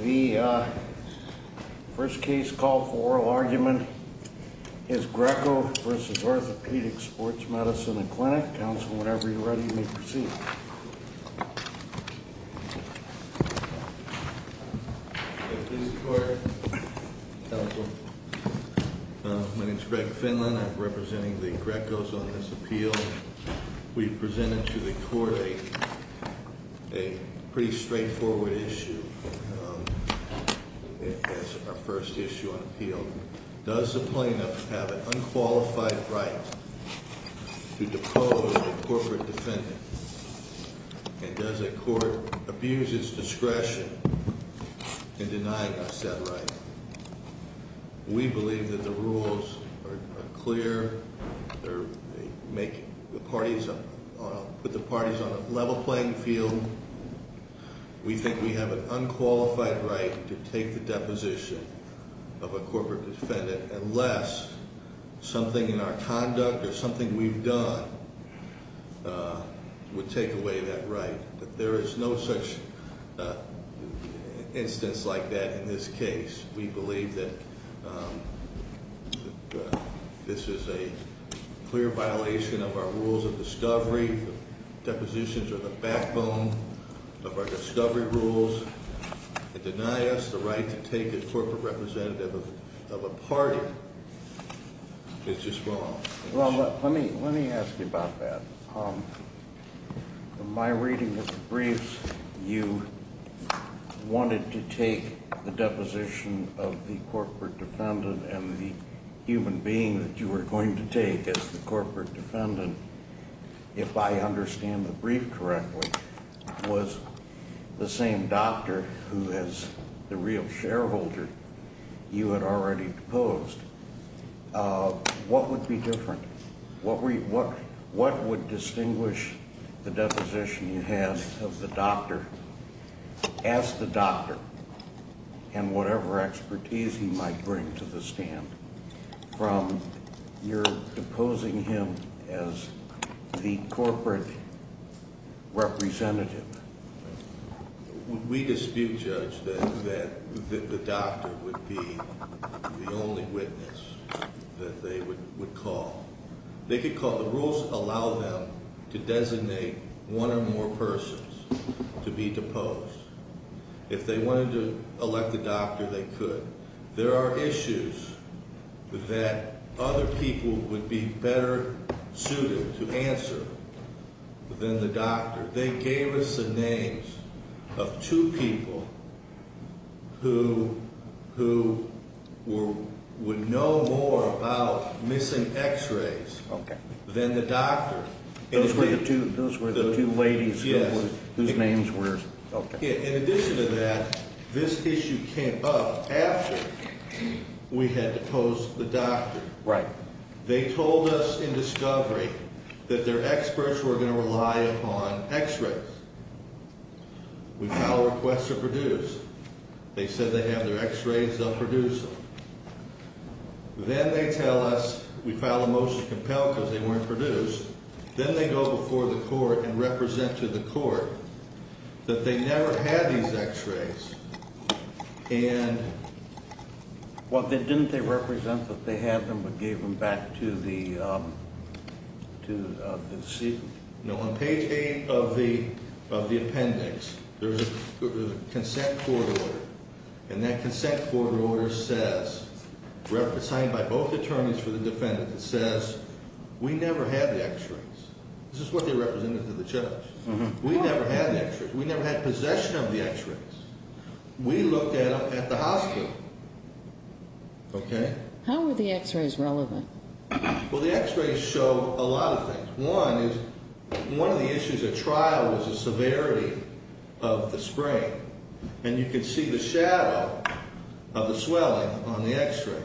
The first case call for oral argument is Greco v. Orthopedic & Sports Medicine Clinic. Counsel, whenever you're ready, you may proceed. My name is Greg Finlan. I'm representing the Grecos on this appeal. We presented to the court a pretty straightforward issue as our first issue on appeal. Does the plaintiff have an unqualified right to depose a corporate defendant? And does the court abuse its discretion in denying us that right? We believe that the rules are clear. They put the parties on a level playing field. We think we have an unqualified right to take the deposition of a corporate defendant unless something in our conduct or something we've done would take away that right. There is no such instance like that in this case. We believe that this is a clear violation of our rules of discovery. Depositions are the backbone of our discovery rules. To deny us the right to take a corporate representative of a party is just wrong. Well, let me ask you about that. In my reading of the briefs, you wanted to take the deposition of the corporate defendant and the human being that you were going to take as the corporate defendant, if I understand the brief correctly, was the same doctor who is the real shareholder you had already deposed. What would be different? What would distinguish the deposition you have of the doctor as the doctor and whatever expertise he might bring to the stand from your deposing him as the corporate representative? We dispute, Judge, that the doctor would be the only witness that they would call. The rules allow them to designate one or more persons to be deposed. If they wanted to elect a doctor, they could. There are issues that other people would be better suited to answer than the doctor. They gave us the names of two people who would know more about missing x-rays than the doctor. Those were the two ladies whose names were? In addition to that, this issue came up after we had deposed the doctor. They told us in discovery that their experts were going to rely upon x-rays. We filed a request to produce. They said they have their x-rays, they'll produce them. Then they tell us we filed a motion to compel because they weren't produced. Then they go before the court and represent to the court that they never had these x-rays. Didn't they represent that they had them but gave them back to the deceitful? No. On page 8 of the appendix, there's a consent court order. That consent court order says, signed by both attorneys for the defendant, it says we never had the x-rays. This is what they represented to the judge. We never had the x-rays. We looked at them at the hospital. How were the x-rays relevant? The x-rays show a lot of things. One is one of the issues at trial was the severity of the sprain. You can see the shadow of the swelling on the x-rays.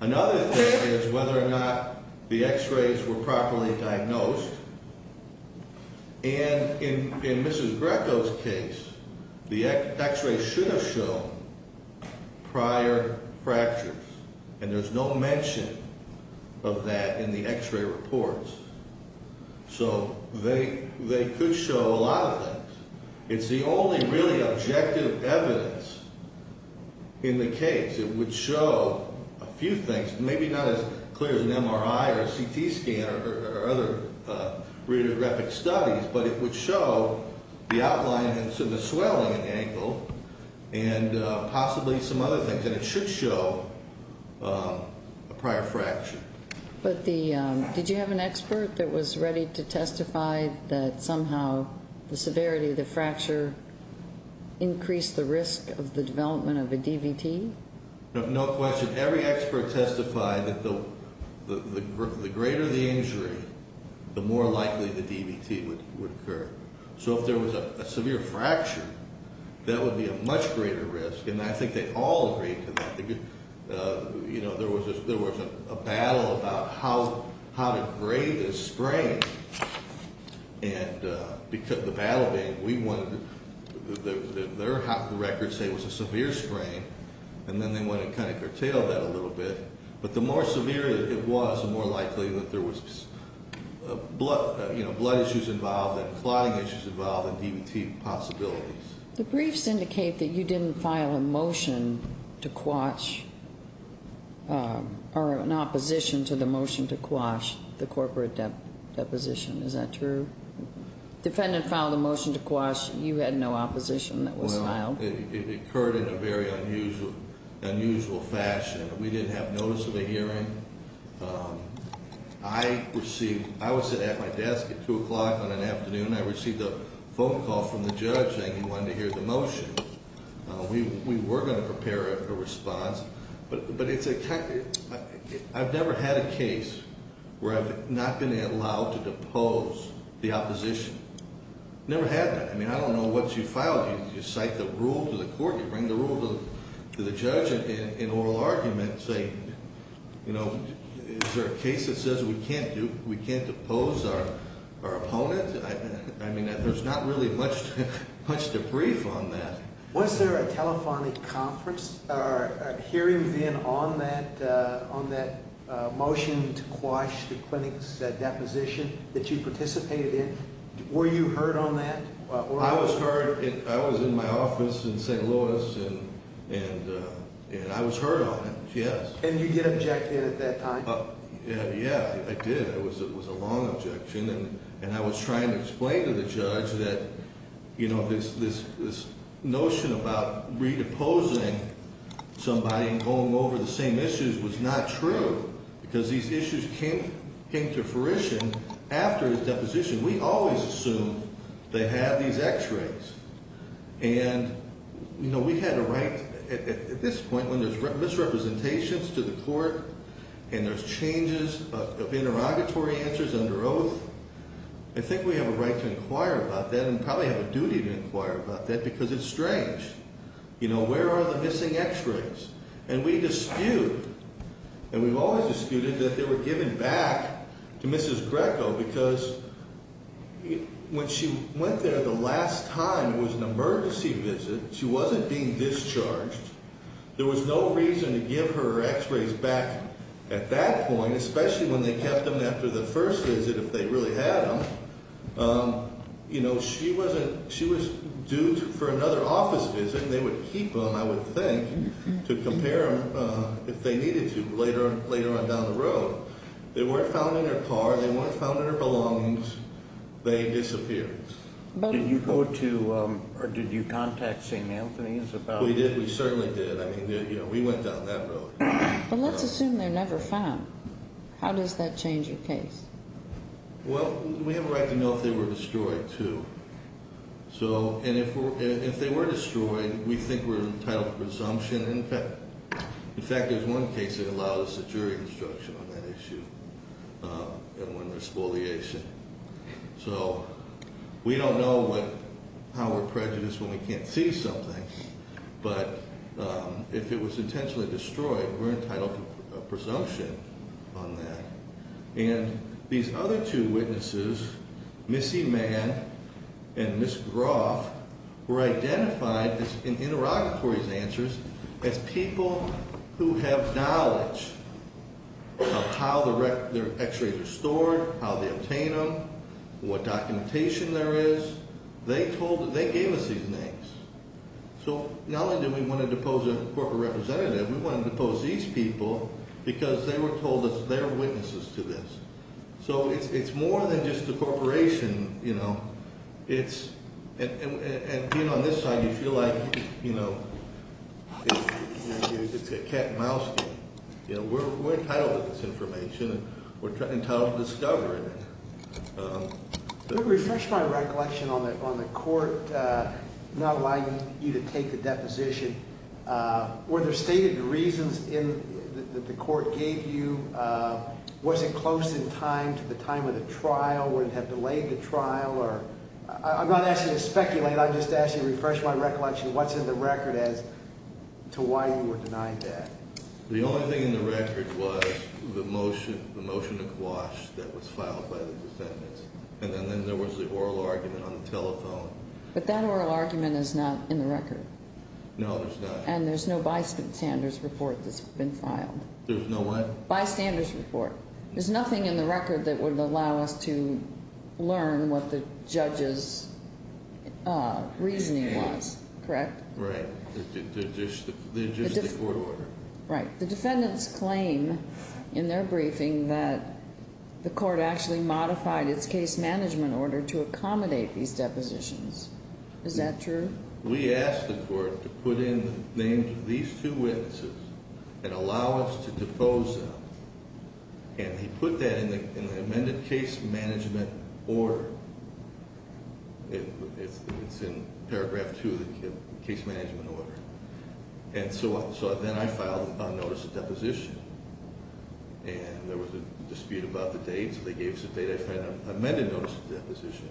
Another thing is whether or not the x-rays were properly diagnosed. In Mrs. Greco's case, the x-rays should have shown prior fractures. There's no mention of that in the x-ray reports. They could show a lot of things. It's the only really objective evidence in the case. It would show a few things, maybe not as clear as an MRI or a CT scan or other radiographic studies, but it would show the outline and the swelling in the ankle and possibly some other things. It should show a prior fracture. Did you have an expert that was ready to testify that somehow the severity of the fracture increased the risk of the development of a DVT? No question. Every expert testified that the greater the injury, the more likely the DVT would occur. So if there was a severe fracture, that would be a much greater risk, and I think they all agreed to that. There was a battle about how to grade this sprain. And the battle being we wanted their records to say it was a severe sprain, and then they wanted to kind of curtail that a little bit. But the more severe it was, the more likely that there was blood issues involved and clotting issues involved and DVT possibilities. The briefs indicate that you didn't file a motion to quash or an opposition to the motion to quash the corporate deposition. Is that true? The defendant filed a motion to quash. You had no opposition that was filed. Well, it occurred in a very unusual fashion. We didn't have notice of a hearing. I was sitting at my desk at 2 o'clock on an afternoon. I received a phone call from the judge saying he wanted to hear the motion. We were going to prepare a response. But I've never had a case where I've not been allowed to depose the opposition. Never had that. I mean, I don't know what you filed. You cite the rule to the court. You bring the rule to the judge in oral argument and say, you know, is there a case that says we can't depose our opponent? I mean, there's not really much to brief on that. Was there a telephonic conference or hearing then on that motion to quash the clinic's deposition that you participated in? Were you heard on that? I was heard. I was in my office in St. Louis, and I was heard on it, yes. And you did object to it at that time? Yeah, I did. It was a long objection. And I was trying to explain to the judge that, you know, this notion about redeposing somebody and going over the same issues was not true. Because these issues came to fruition after his deposition. We always assume they have these x-rays. And, you know, we had a right at this point when there's misrepresentations to the court and there's changes of interrogatory answers under oath, I think we have a right to inquire about that and probably have a duty to inquire about that because it's strange. You know, where are the missing x-rays? And we dispute, and we've always disputed, that they were given back to Mrs. Greco because when she went there the last time, it was an emergency visit. She wasn't being discharged. There was no reason to give her x-rays back at that point, especially when they kept them after the first visit if they really had them. You know, she was due for another office visit, and they would keep them, I would think, to compare them if they needed to later on down the road. They weren't found in her car. They weren't found in her belongings. They disappeared. Did you go to or did you contact St. Anthony's about that? We did. We certainly did. I mean, you know, we went down that road. But let's assume they're never found. How does that change your case? Well, we have a right to know if they were destroyed, too. So, and if they were destroyed, we think we're entitled to presumption. In fact, there's one case that allowed us a jury instruction on that issue and won the spoliation. So we don't know how we're prejudiced when we can't see something. But if it was intentionally destroyed, we're entitled to a presumption on that. And these other two witnesses, Ms. Eman and Ms. Groff, were identified in interrogatory's answers as people who have knowledge of how their X-rays are stored, how they obtain them, what documentation there is. They gave us these names. So not only did we want to depose a corporate representative, we wanted to depose these people because they were told that they're witnesses to this. So it's more than just a corporation, you know. It's – and being on this side, you feel like, you know, it's a cat and mouse game. You know, we're entitled to this information. We're entitled to discover it. Let me refresh my recollection on the court not allowing you to take the deposition. Were there stated reasons that the court gave you? Was it close in time to the time of the trial? Would it have delayed the trial? I'm not asking you to speculate. I'm just asking you to refresh my recollection of what's in the record as to why you were denied that. The only thing in the record was the motion, the motion to quash that was filed by the defendants. And then there was the oral argument on the telephone. But that oral argument is not in the record. No, it's not. And there's no bystander's report that's been filed. There's no what? Bystander's report. There's nothing in the record that would allow us to learn what the judge's reasoning was, correct? Right. There's just the court order. Right. The defendants claim in their briefing that the court actually modified its case management order to accommodate these depositions. Is that true? We asked the court to put in the names of these two witnesses and allow us to depose them. And he put that in the amended case management order. It's in paragraph two of the case management order. And so then I filed a notice of deposition. And there was a dispute about the date. So they gave us a date. I filed an amended notice of deposition.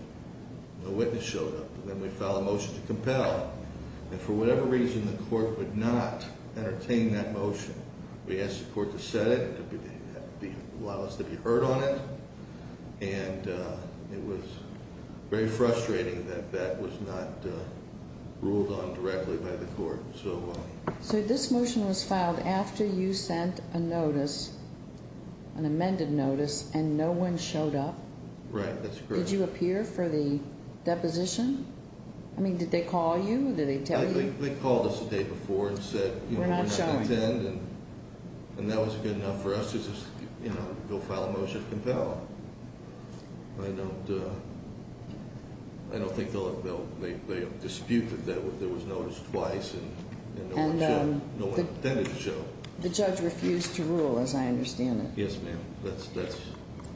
No witness showed up. And then we filed a motion to compel. And for whatever reason, the court would not entertain that motion. We asked the court to set it and allow us to be heard on it. And it was very frustrating that that was not ruled on directly by the court. So this motion was filed after you sent a notice, an amended notice, and no one showed up? Right, that's correct. Did you appear for the deposition? I mean, did they call you? Did they tell you? They called us the day before and said, you know, we're not going to attend. We're not showing. And that was good enough for us to just, you know, go file a motion to compel. I don't think they'll dispute that there was notice twice and no one attended the show. The judge refused to rule, as I understand it. Yes, ma'am.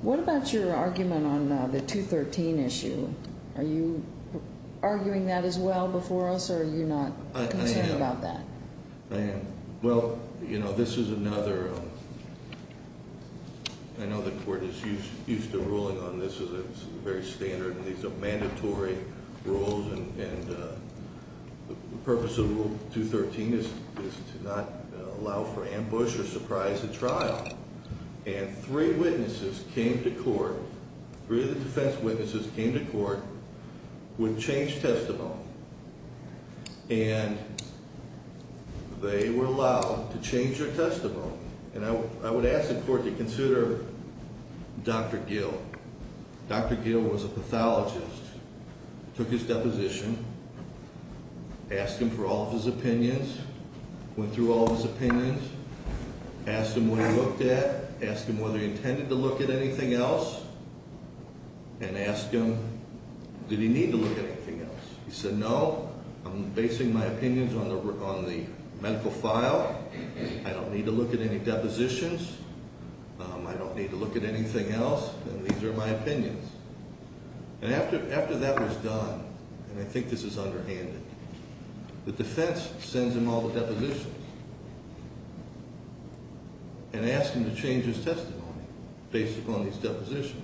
What about your argument on the 213 issue? Are you arguing that as well before us, or are you not concerned about that? I am. Well, you know, this is another, I know the court is used to ruling on this. It's very standard. These are mandatory rules, and the purpose of Rule 213 is to not allow for ambush or surprise at trial. And three witnesses came to court, three of the defense witnesses came to court with changed testimony. And they were allowed to change their testimony. And I would ask the court to consider Dr. Gill. Dr. Gill was a pathologist, took his deposition, asked him for all of his opinions, went through all of his opinions, asked him what he looked at, asked him whether he intended to look at anything else, and asked him did he need to look at anything else. He said, no, I'm basing my opinions on the medical file. I don't need to look at any depositions. I don't need to look at anything else, and these are my opinions. And after that was done, and I think this is underhanded, the defense sends him all the depositions and asks him to change his testimony based upon these depositions.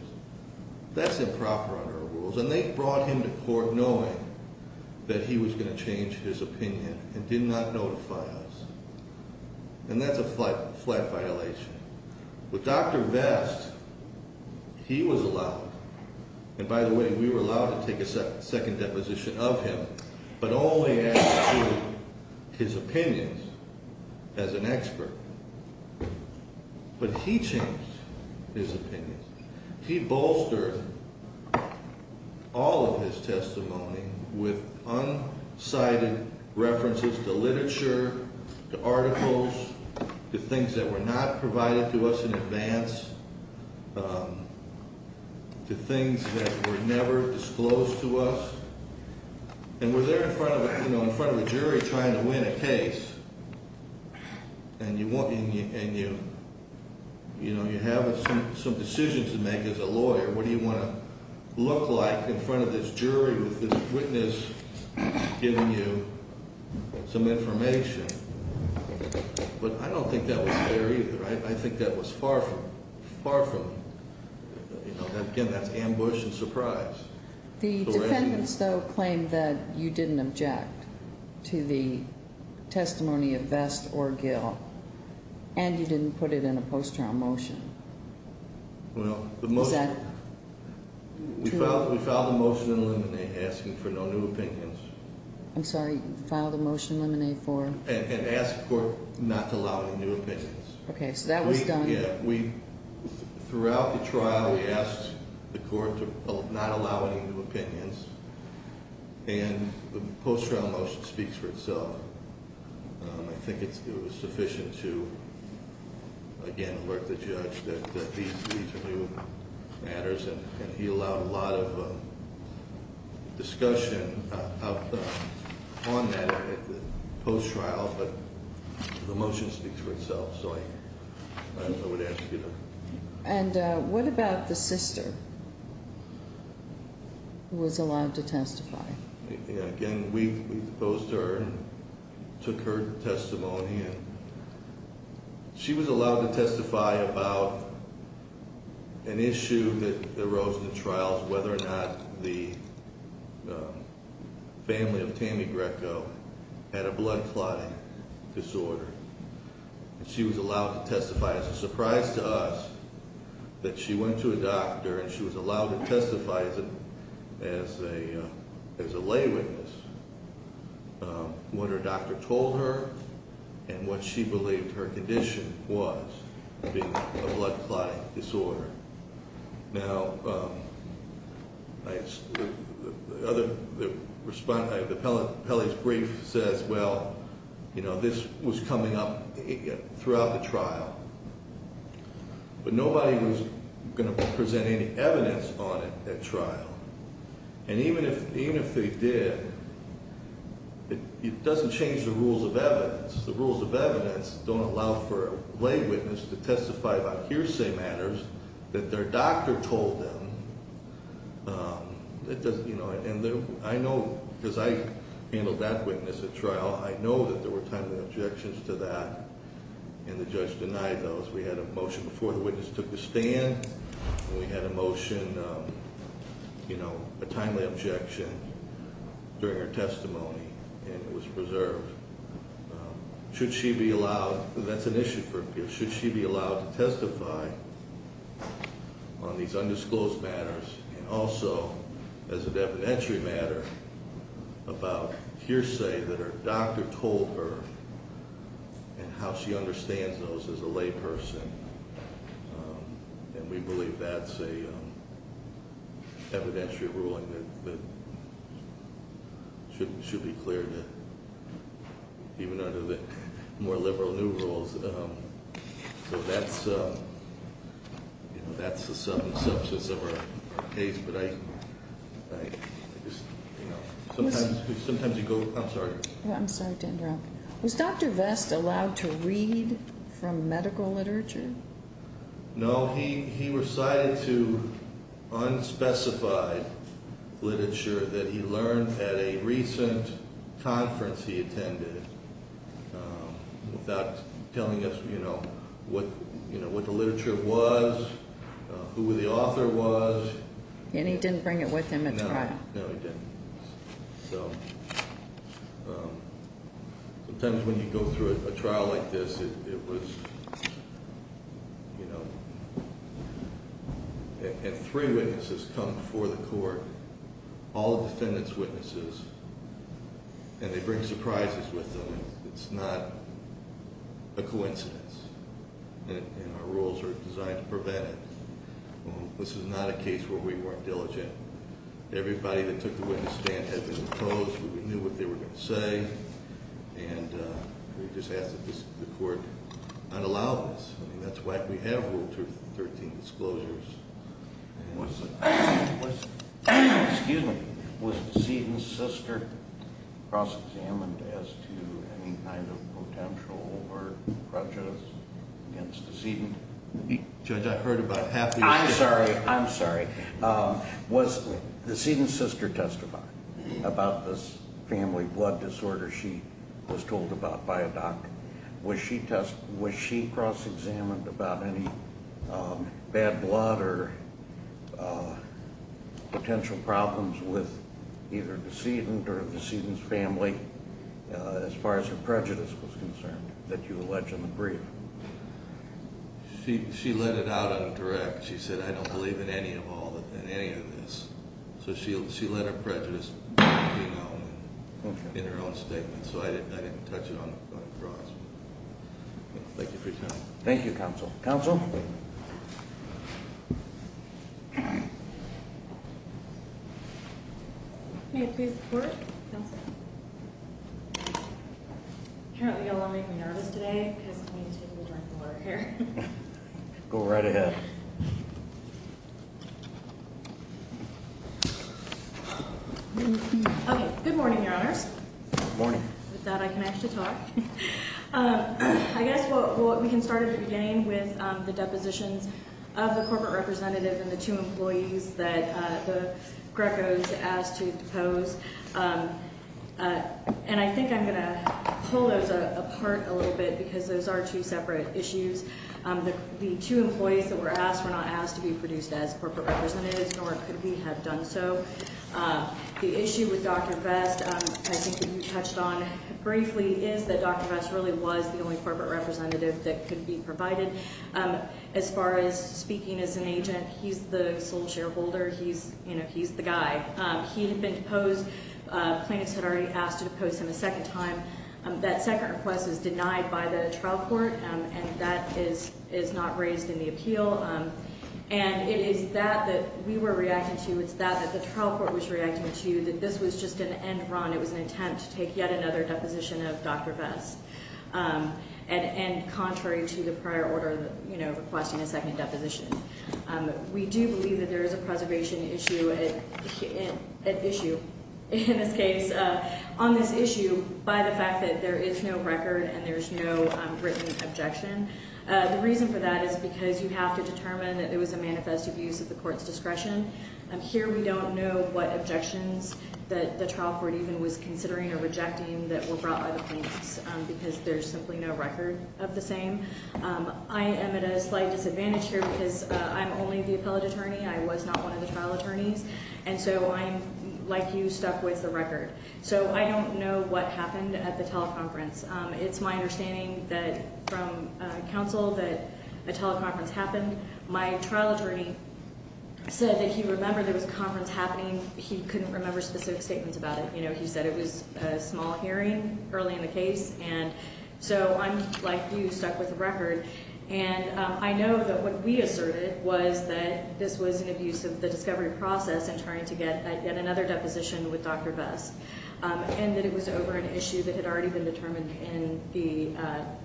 That's improper under our rules, and they brought him to court knowing that he was going to change his opinion and did not notify us. And that's a flat violation. With Dr. Vest, he was allowed, and by the way, we were allowed to take a second deposition of him, but only as to his opinions as an expert, but he changed his opinions. He bolstered all of his testimony with unsighted references to literature, to articles, to things that were not provided to us in advance, to things that were never disclosed to us. And we're there in front of a jury trying to win a case, and you have some decisions to make as a lawyer. What do you want to look like in front of this jury with this witness giving you some information? But I don't think that was fair either. I think that was far from it. Again, that's ambush and surprise. The defendants, though, claimed that you didn't object to the testimony of Vest or Gill, and you didn't put it in a post-trial motion. Well, we filed a motion in limine asking for no new opinions. I'm sorry, you filed a motion in limine for? And asked the court not to allow any new opinions. Okay, so that was done. Yeah. Throughout the trial, we asked the court to not allow any new opinions, and the post-trial motion speaks for itself. I think it was sufficient to, again, alert the judge that these are new matters, and he allowed a lot of discussion on that post-trial, but the motion speaks for itself, so I would ask you to- And what about the sister who was allowed to testify? Again, we posed to her and took her testimony, and she was allowed to testify about an issue that arose in the trials, whether or not the family of Tammy Greco had a blood clotting disorder. She was allowed to testify. It's a surprise to us that she went to a doctor and she was allowed to testify as a lay witness, what her doctor told her, and what she believed her condition was, being a blood clotting disorder. Now, Pelley's brief says, well, this was coming up throughout the trial, but nobody was going to present any evidence on it at trial, and even if they did, it doesn't change the rules of evidence. The rules of evidence don't allow for a lay witness to testify about hearsay matters that their doctor told them. And I know, because I handled that witness at trial, I know that there were timely objections to that, and the judge denied those. We had a motion before the witness took the stand, and we had a motion, a timely objection during her testimony, and it was preserved. Should she be allowed, that's an issue for a peer, should she be allowed to testify on these undisclosed matters, and also as an evidentiary matter about hearsay that her doctor told her, and how she understands those as a lay person. And we believe that's an evidentiary ruling that should be cleared, even under the more liberal new rules. So that's the substance of our case, but I just, you know, sometimes you go, I'm sorry. I'm sorry to interrupt. Was Dr. Vest allowed to read from medical literature? No, he recited to unspecified literature that he learned at a recent conference he attended, without telling us, you know, what the literature was, who the author was. And he didn't bring it with him at trial. No, he didn't. So, sometimes when you go through a trial like this, it was, you know, and three witnesses come before the court, all defendants' witnesses, and they bring surprises with them. It's not a coincidence, and our rules are designed to prevent it. This is not a case where we weren't diligent. Everybody that took the witness stand had been opposed. We knew what they were going to say, and we just asked that the court not allow this. I mean, that's why we have Rule 13 disclosures. Was the- Excuse me. Was the decedent's sister cross-examined as to any kind of potential or prejudice against the decedent? Judge, I heard about half the- I'm sorry. I'm sorry. Was the decedent's sister testified about this family blood disorder she was told about by a doctor? Was she cross-examined about any bad blood or potential problems with either the decedent or the decedent's family, as far as her prejudice was concerned, that you allege in the brief? She let it out in a direct. She said, I don't believe in any of this. So she let her prejudice be known in her own statement. So I didn't touch it on the grounds. Thank you for your time. Thank you, counsel. Counsel? May it please the court? Counsel? Apparently you all are making me nervous today because I need to take a drink of water here. Go right ahead. Okay. Good morning, Your Honors. Good morning. With that, I can actually talk. I guess we can start at the beginning with the depositions of the corporate representative and the two employees that Greco's asked to depose. And I think I'm going to pull those apart a little bit because those are two separate issues. The two employees that were asked were not asked to be produced as corporate representatives, nor could we have done so. The issue with Dr. Vest, I think you touched on briefly, is that Dr. Vest really was the only corporate representative that could be provided. As far as speaking as an agent, he's the sole shareholder. He's the guy. He had been deposed. Plaintiffs had already asked to depose him a second time. That second request is denied by the trial court, and that is not raised in the appeal. And it is that that we were reacting to. It's that that the trial court was reacting to, that this was just an end run. It was an attempt to take yet another deposition of Dr. Vest, and contrary to the prior order requesting a second deposition. We do believe that there is a preservation issue in this case on this issue by the fact that there is no record and there is no written objection. The reason for that is because you have to determine that it was a manifest abuse of the court's discretion. Here we don't know what objections that the trial court even was considering or rejecting that were brought by the plaintiffs because there's simply no record of the same. I am at a slight disadvantage here because I'm only the appellate attorney. I was not one of the trial attorneys, and so I'm, like you, stuck with the record. So I don't know what happened at the teleconference. It's my understanding that from counsel that a teleconference happened. My trial attorney said that he remembered there was a conference happening. He couldn't remember specific statements about it. You know, he said it was a small hearing early in the case, and so I'm, like you, stuck with the record. And I know that what we asserted was that this was an abuse of the discovery process in trying to get yet another deposition with Dr. Vest. And that it was over an issue that had already been determined in the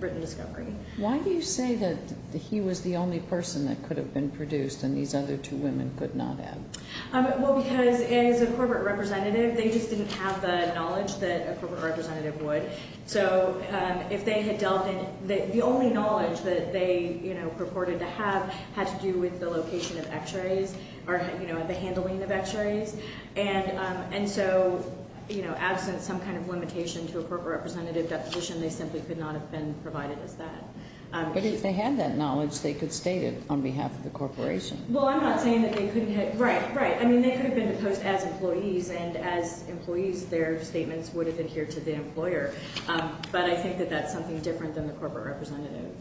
written discovery. Why do you say that he was the only person that could have been produced and these other two women could not have? Well, because as a corporate representative, they just didn't have the knowledge that a corporate representative would. So if they had dealt in the only knowledge that they, you know, purported to have had to do with the location of x-rays or, you know, the handling of x-rays. And so, you know, absent some kind of limitation to a corporate representative deposition, they simply could not have been provided as that. But if they had that knowledge, they could state it on behalf of the corporation. Well, I'm not saying that they couldn't have. Right, right. I mean, they could have been deposed as employees, and as employees, their statements would have adhered to the employer. But I think that that's something different than the corporate representative.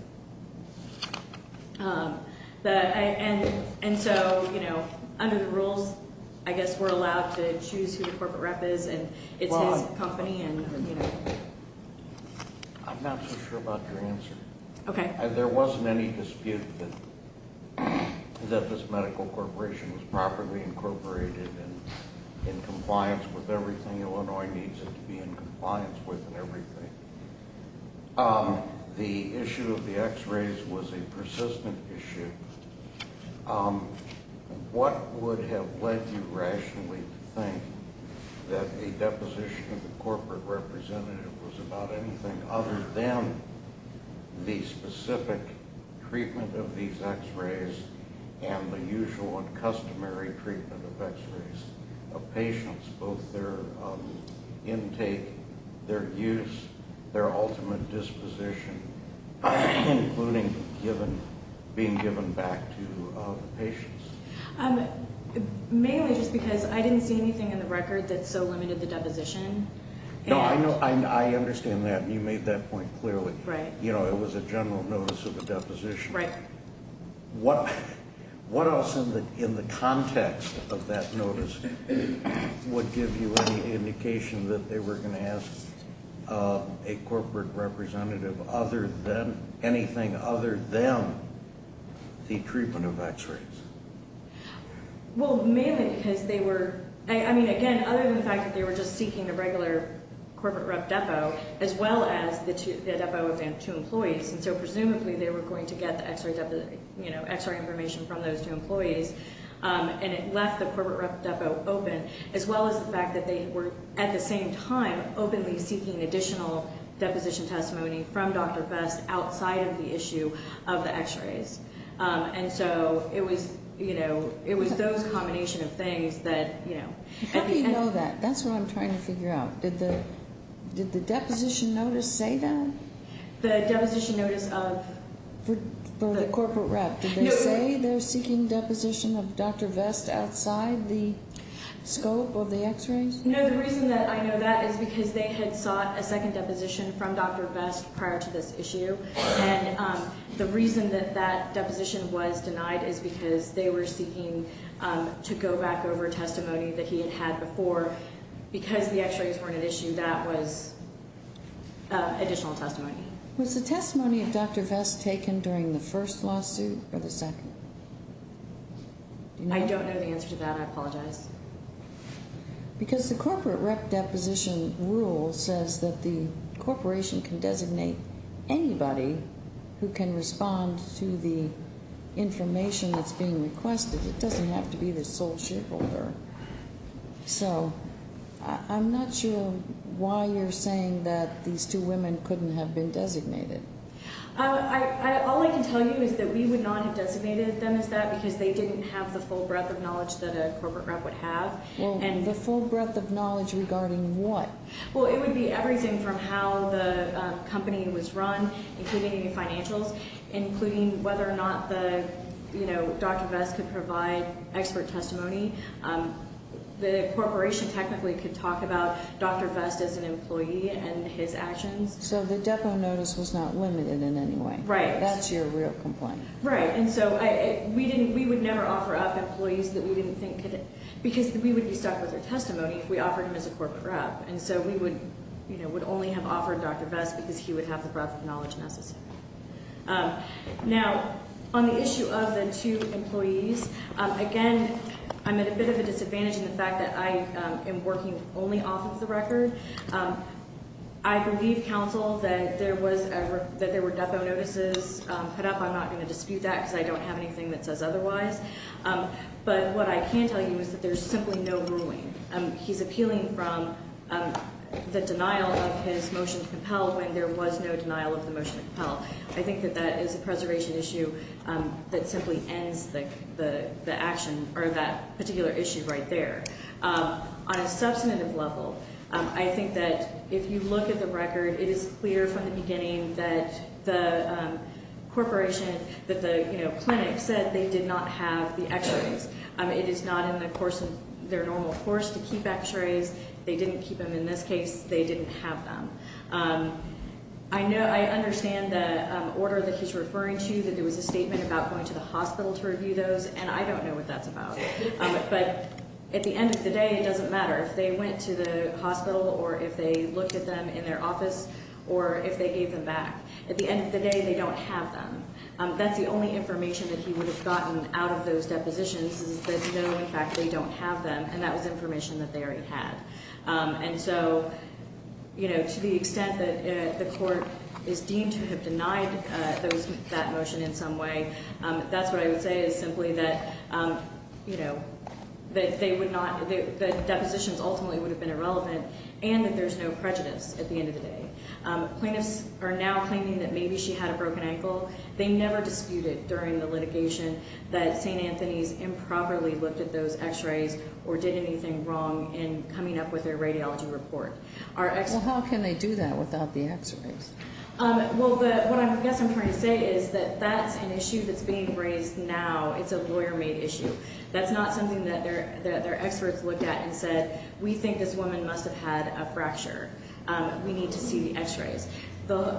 And so, you know, under the rules, I guess we're allowed to choose who the corporate rep is and it's his company and, you know. I'm not so sure about your answer. Okay. There wasn't any dispute that this medical corporation was properly incorporated and in compliance with everything Illinois needs it to be in compliance with and everything. The issue of the x-rays was a persistent issue. What would have led you rationally to think that a deposition of a corporate representative was about anything other than the specific treatment of these x-rays and the usual and customary treatment of x-rays of patients, both their intake, their use, their ultimate disposition, including being given back to the patients? Mainly just because I didn't see anything in the record that so limited the deposition. No, I understand that, and you made that point clearly. Right. You know, it was a general notice of a deposition. Right. What else in the context of that notice would give you any indication that they were going to ask a corporate representative anything other than the treatment of x-rays? Well, mainly because they were – I mean, again, other than the fact that they were just seeking a regular corporate rep depo, as well as the depo of two employees. And so presumably they were going to get the x-ray information from those two employees, and it left the corporate rep depo open, as well as the fact that they were, at the same time, openly seeking additional deposition testimony from Dr. Best outside of the issue of the x-rays. And so it was, you know, it was those combination of things that, you know. How do you know that? That's what I'm trying to figure out. Did the deposition notice say that? The deposition notice of the corporate rep. Did they say they're seeking deposition of Dr. Best outside the scope of the x-rays? No. The reason that I know that is because they had sought a second deposition from Dr. Best prior to this issue. And the reason that that deposition was denied is because they were seeking to go back over testimony that he had had before. Because the x-rays weren't an issue, that was additional testimony. Was the testimony of Dr. Best taken during the first lawsuit or the second? I don't know the answer to that. I apologize. Because the corporate rep. deposition rule says that the corporation can designate anybody who can respond to the information that's being requested. It doesn't have to be the sole shareholder. So I'm not sure why you're saying that these two women couldn't have been designated. All I can tell you is that we would not have designated them as that because they didn't have the full breadth of knowledge that a corporate rep would have. Well, the full breadth of knowledge regarding what? Well, it would be everything from how the company was run, including any financials, including whether or not Dr. Best could provide expert testimony. The corporation technically could talk about Dr. Best as an employee and his actions. So the depo notice was not limited in any way. Right. That's your real complaint. Right. And so we would never offer up employees that we didn't think could, because we would be stuck with their testimony if we offered them as a corporate rep. And so we would only have offered Dr. Best because he would have the breadth of knowledge necessary. Now, on the issue of the two employees, again, I'm at a bit of a disadvantage in the fact that I am working only off of the record. I believe, counsel, that there were depo notices put up. I'm not going to dispute that because I don't have anything that says otherwise. But what I can tell you is that there's simply no ruling. He's appealing from the denial of his motion to propel when there was no denial of the motion to propel. I think that that is a preservation issue that simply ends the action or that particular issue right there. On a substantive level, I think that if you look at the record, it is clear from the beginning that the corporation, that the clinic said they did not have the x-rays. It is not in the course of their normal course to keep x-rays. They didn't keep them in this case. They didn't have them. I understand the order that he's referring to, that there was a statement about going to the hospital to review those. And I don't know what that's about. But at the end of the day, it doesn't matter if they went to the hospital or if they looked at them in their office or if they gave them back. At the end of the day, they don't have them. That's the only information that he would have gotten out of those depositions is that, no, in fact, they don't have them. And that was information that they already had. And so, you know, to the extent that the court is deemed to have denied that motion in some way, that's what I would say is simply that, you know, that they would not, that the depositions ultimately would have been irrelevant and that there's no prejudice at the end of the day. Plaintiffs are now claiming that maybe she had a broken ankle. They never disputed during the litigation that St. Anthony's improperly looked at those x-rays or did anything wrong in coming up with their radiology report. Well, how can they do that without the x-rays? Well, what I guess I'm trying to say is that that's an issue that's being raised now. It's a lawyer-made issue. That's not something that their experts looked at and said, we think this woman must have had a fracture. We need to see the x-rays.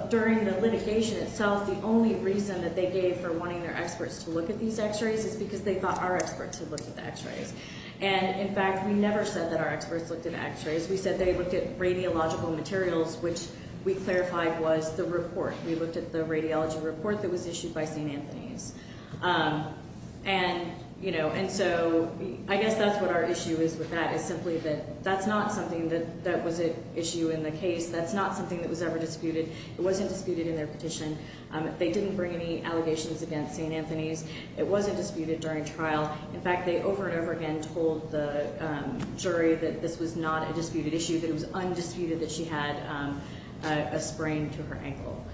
During the litigation itself, the only reason that they gave for wanting their experts to look at these x-rays is because they thought our experts had looked at the x-rays. And, in fact, we never said that our experts looked at the x-rays. We said they looked at radiological materials, which we clarified was the report. We looked at the radiology report that was issued by St. Anthony's. And, you know, and so I guess that's what our issue is with that is simply that that's not something that was an issue in the case. That's not something that was ever disputed. It wasn't disputed in their petition. They didn't bring any allegations against St. Anthony's. It wasn't disputed during trial. In fact, they over and over again told the jury that this was not a disputed issue, that it was undisputed that she had a sprain to her ankle.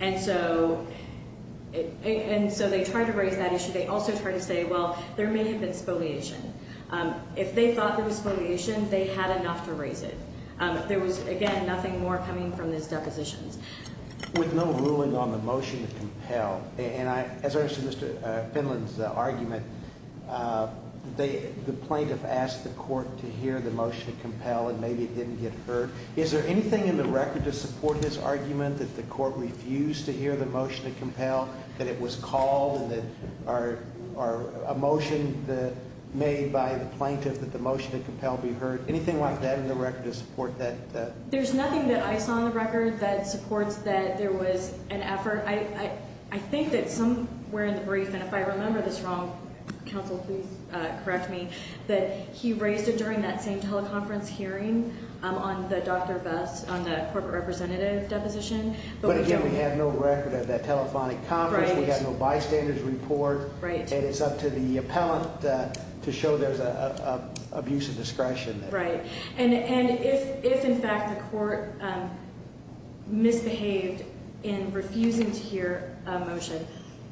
And so they tried to raise that issue. They also tried to say, well, there may have been spoliation. If they thought there was spoliation, they had enough to raise it. There was, again, nothing more coming from those depositions. With no ruling on the motion to compel. And as I understand Mr. Finland's argument, the plaintiff asked the court to hear the motion to compel and maybe it didn't get heard. Is there anything in the record to support his argument that the court refused to hear the motion to compel, that it was called, or a motion made by the plaintiff that the motion to compel be heard? Anything like that in the record to support that? There's nothing that I saw in the record that supports that there was an effort. I think that somewhere in the brief, and if I remember this wrong, counsel, please correct me, that he raised it during that same teleconference hearing on the Dr. Vest, on the corporate representative deposition. But again, we have no record of that telephonic conference. We have no bystanders report. And it's up to the appellant to show there's an abuse of discretion. Right. And if, in fact, the court misbehaved in refusing to hear a motion,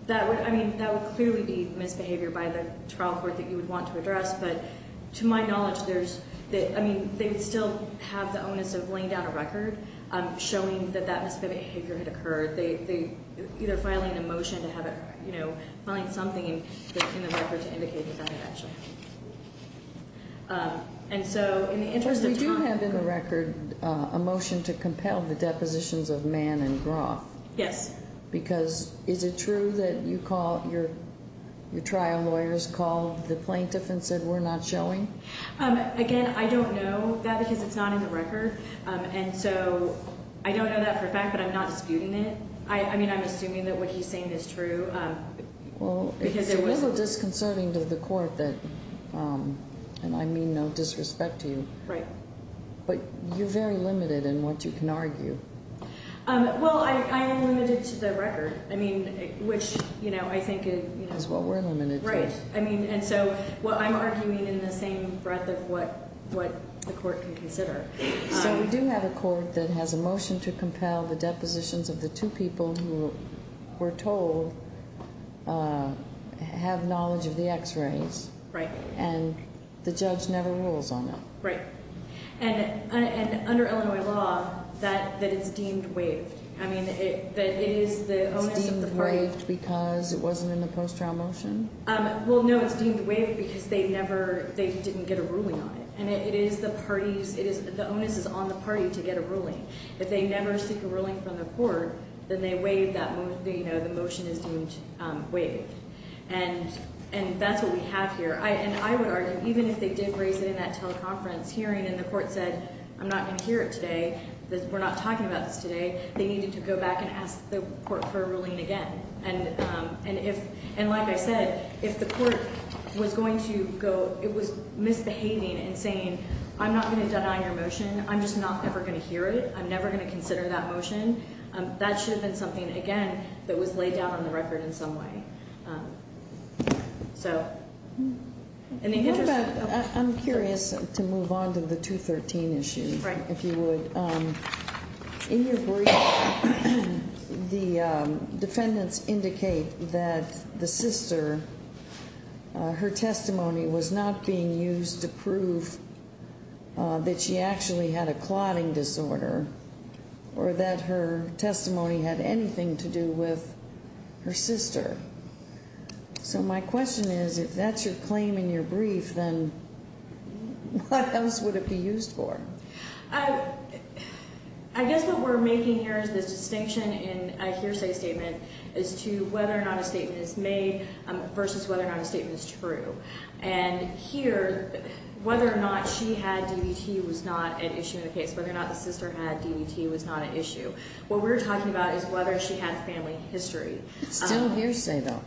that would clearly be misbehavior by the trial court that you would want to address. But to my knowledge, they still have the onus of laying down a record showing that that misbehavior had occurred. They're either filing a motion to have it, you know, filing something in the record to indicate that that actually happened. And so in the interest of time. We do have in the record a motion to compel the depositions of Mann and Groff. Yes. Because is it true that you call, your trial lawyers called the plaintiff and said we're not showing? Again, I don't know that because it's not in the record. And so I don't know that for a fact, but I'm not disputing it. I mean, I'm assuming that what he's saying is true. Well, it's a little disconcerting to the court that, and I mean no disrespect to you. Right. But you're very limited in what you can argue. Well, I am limited to the record. I mean, which, you know, I think is what we're limited to. Right. I mean, and so I'm arguing in the same breath of what the court can consider. So we do have a court that has a motion to compel the depositions of the two people who were told have knowledge of the x-rays. Right. And the judge never rules on them. Right. And under Illinois law, that is deemed waived. I mean, it is the onus of the parties. It's deemed waived because it wasn't in the post-trial motion? Well, no, it's deemed waived because they never, they didn't get a ruling on it. And it is the parties, the onus is on the party to get a ruling. If they never seek a ruling from the court, then they waive that, you know, the motion is deemed waived. And that's what we have here. And I would argue, even if they did raise it in that teleconference hearing and the court said, I'm not going to hear it today, we're not talking about this today, they needed to go back and ask the court for a ruling again. And if, and like I said, if the court was going to go, it was misbehaving and saying, I'm not going to deny your motion, I'm just not ever going to hear it, I'm never going to consider that motion, that should have been something, again, that was laid down on the record in some way. So. I'm curious to move on to the 213 issue. Right. If you would. In your brief, the defendants indicate that the sister, her testimony was not being used to prove that she actually had a clotting disorder or that her testimony had anything to do with her sister. So my question is, if that's your claim in your brief, then what else would it be used for? I guess what we're making here is this distinction in a hearsay statement as to whether or not a statement is made versus whether or not a statement is true. And here, whether or not she had DVT was not an issue in the case. Whether or not the sister had DVT was not an issue. What we're talking about is whether she had family history. It's still a hearsay, though.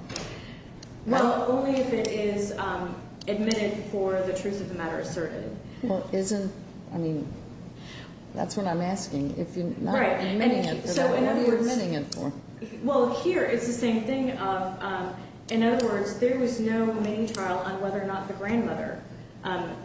Well, only if it is admitted for the truth of the matter asserted. Well, isn't, I mean, that's what I'm asking. Right. If you're not admitting it, then what are you admitting it for? Well, here, it's the same thing. In other words, there was no main trial on whether or not the grandmother,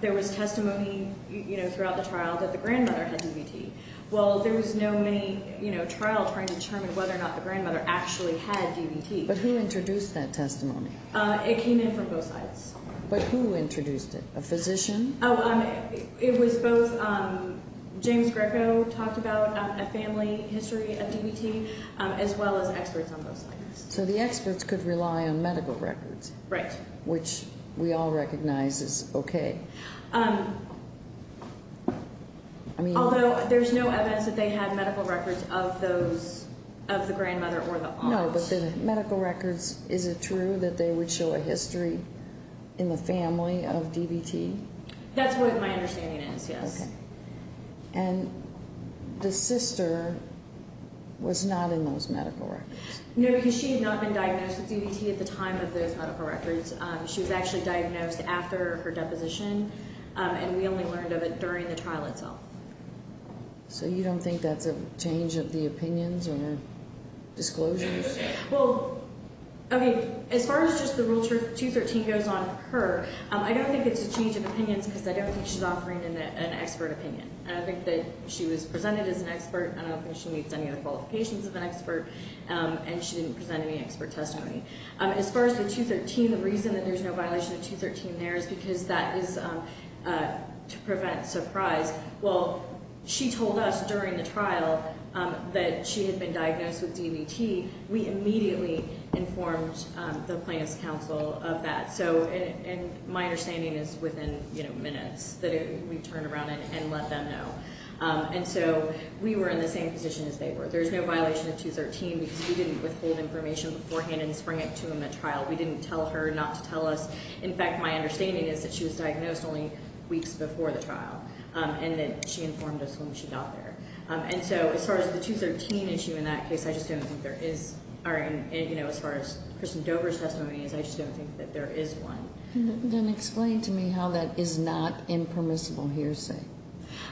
there was testimony, you know, throughout the trial that the grandmother had DVT. Well, there was no main, you know, trial trying to determine whether or not the grandmother actually had DVT. But who introduced that testimony? It came in from both sides. But who introduced it? A physician? Oh, it was both, James Greco talked about a family history of DVT as well as experts on both sides. So the experts could rely on medical records. Right. Which we all recognize is okay. I mean. Although there's no evidence that they had medical records of those, of the grandmother or the aunt. No, but the medical records, is it true that they would show a history in the family of DVT? That's what my understanding is, yes. Okay. And the sister was not in those medical records? No, because she had not been diagnosed with DVT at the time of those medical records. She was actually diagnosed after her deposition, and we only learned of it during the trial itself. So you don't think that's a change of the opinions or disclosures? Well, okay, as far as just the Rule 213 goes on her, I don't think it's a change of opinions because I don't think she's offering an expert opinion. And I think that she was presented as an expert. I don't think she meets any of the qualifications of an expert, and she didn't present any expert testimony. As far as the 213, the reason that there's no violation of 213 there is because that is to prevent surprise. Well, she told us during the trial that she had been diagnosed with DVT. We immediately informed the plaintiff's counsel of that. So my understanding is within, you know, minutes that we turn around and let them know. And so we were in the same position as they were. There is no violation of 213 because we didn't withhold information beforehand and spring it to them at trial. We didn't tell her not to tell us. In fact, my understanding is that she was diagnosed only weeks before the trial and that she informed us when she got there. And so as far as the 213 issue in that case, I just don't think there is. And, you know, as far as Kristen Dover's testimony is, I just don't think that there is one. Then explain to me how that is not impermissible hearsay.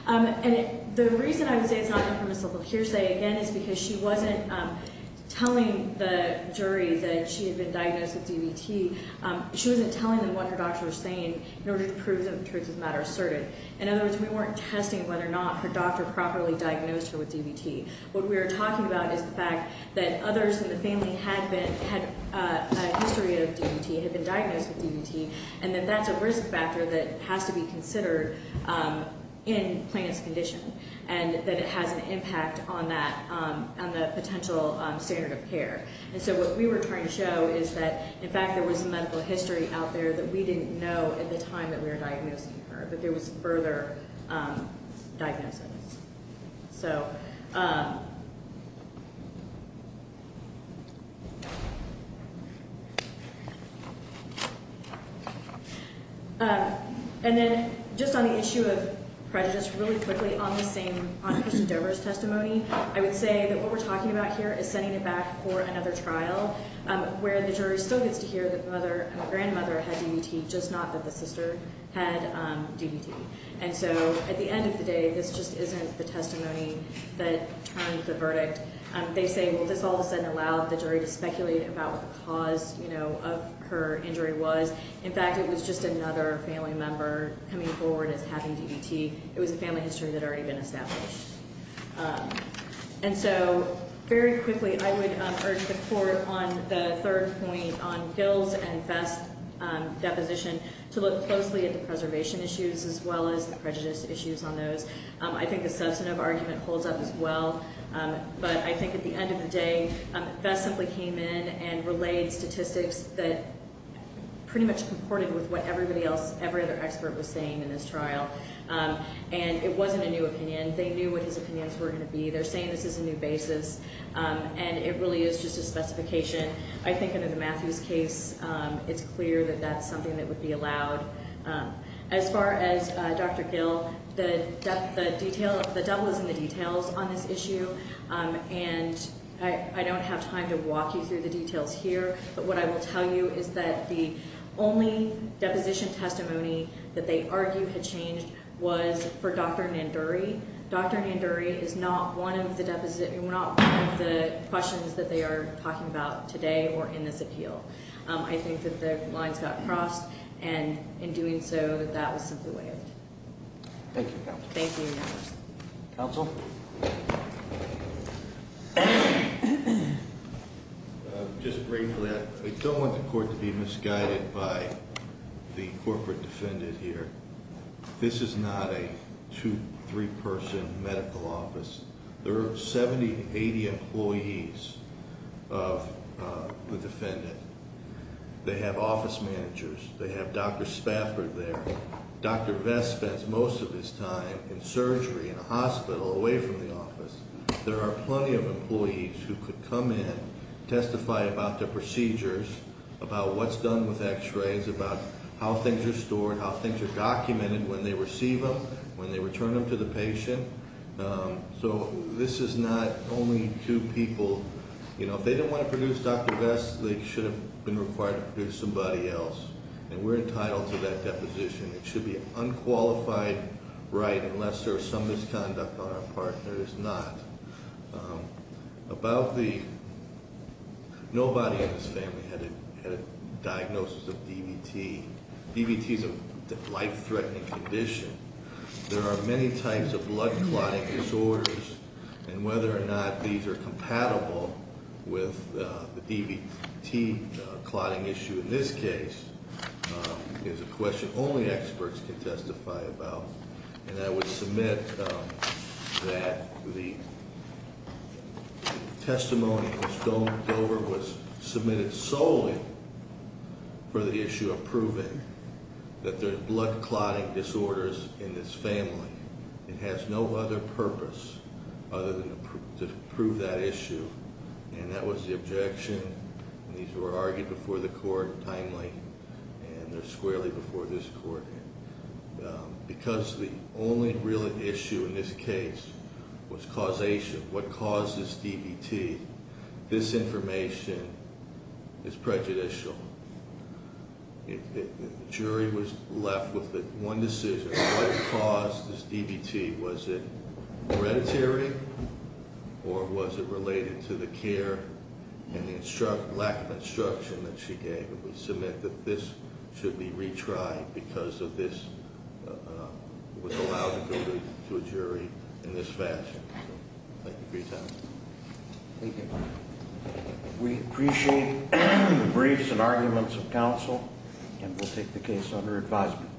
And the reason I would say it's not impermissible hearsay, again, is because she wasn't telling the jury that she had been diagnosed with DVT. She wasn't telling them what her doctor was saying in order to prove the truth of the matter asserted. In other words, we weren't testing whether or not her doctor properly diagnosed her with DVT. What we were talking about is the fact that others in the family had a history of DVT, had been diagnosed with DVT, and that that's a risk factor that has to be considered in Plaintiff's condition and that it has an impact on that, on the potential standard of care. And so what we were trying to show is that, in fact, there was medical history out there that we didn't know at the time that we were diagnosing her, but there was further diagnosis. So. And then just on the issue of prejudice, really quickly on the same, on Kirsten Dover's testimony, I would say that what we're talking about here is setting it back for another trial where the jury still gets to hear that the mother and the grandmother had DVT, just not that the sister had DVT. And so at the end of the day, this just isn't the testimony that turned the verdict. They say, well, this all of a sudden allowed the jury to speculate about what the cause, you know, of her injury was. In fact, it was just another family member coming forward as having DVT. It was a family history that had already been established. And so very quickly, I would urge the court on the third point on Gill's and Vest's deposition to look closely at the preservation issues as well as the prejudice issues on those. I think the substantive argument holds up as well. But I think at the end of the day, Vest simply came in and relayed statistics that pretty much comported with what everybody else, every other expert was saying in this trial. And it wasn't a new opinion. They knew what his opinions were going to be. They're saying this is a new basis. And it really is just a specification. I think under the Matthews case, it's clear that that's something that would be allowed. As far as Dr. Gill, the debt was in the details on this issue. And I don't have time to walk you through the details here. But what I will tell you is that the only deposition testimony that they argue had changed was for Dr. Nanduri. Dr. Nanduri is not one of the questions that they are talking about today or in this appeal. I think that the lines got crossed. And in doing so, that was simply waived. Thank you, counsel. Thank you. Counsel? Just briefly, I don't want the court to be misguided by the corporate defendant here. This is not a two-, three-person medical office. There are 70, 80 employees of the defendant. They have office managers. They have Dr. Spafford there. Dr. Vest spends most of his time in surgery in a hospital away from the office. There are plenty of employees who could come in, testify about their procedures, about what's done with x-rays, about how things are stored, how things are documented when they receive them, when they return them to the patient. So this is not only two people. If they didn't want to produce Dr. Vest, they should have been required to produce somebody else. And we're entitled to that deposition. It should be an unqualified right unless there's some misconduct on our part. There is not. About the, nobody in this family had a diagnosis of DVT. DVT is a life-threatening condition. There are many types of blood clotting disorders. And whether or not these are compatible with the DVT clotting issue in this case is a question only experts can testify about. And I would submit that the testimony which Dover was submitted solely for the issue of proving that there are blood clotting disorders in this family. It has no other purpose other than to prove that issue. And that was the objection. And these were argued before the court timely. And they're squarely before this court. Because the only real issue in this case was causation. What caused this DVT. This information is prejudicial. The jury was left with one decision. What caused this DVT? Was it hereditary? Or was it related to the care and the lack of instruction that she gave? And we submit that this should be retried because of this. It was allowed to go to a jury in this fashion. Thank you for your time. Thank you. We appreciate briefs and arguments of counsel. And we'll take the case under advisement.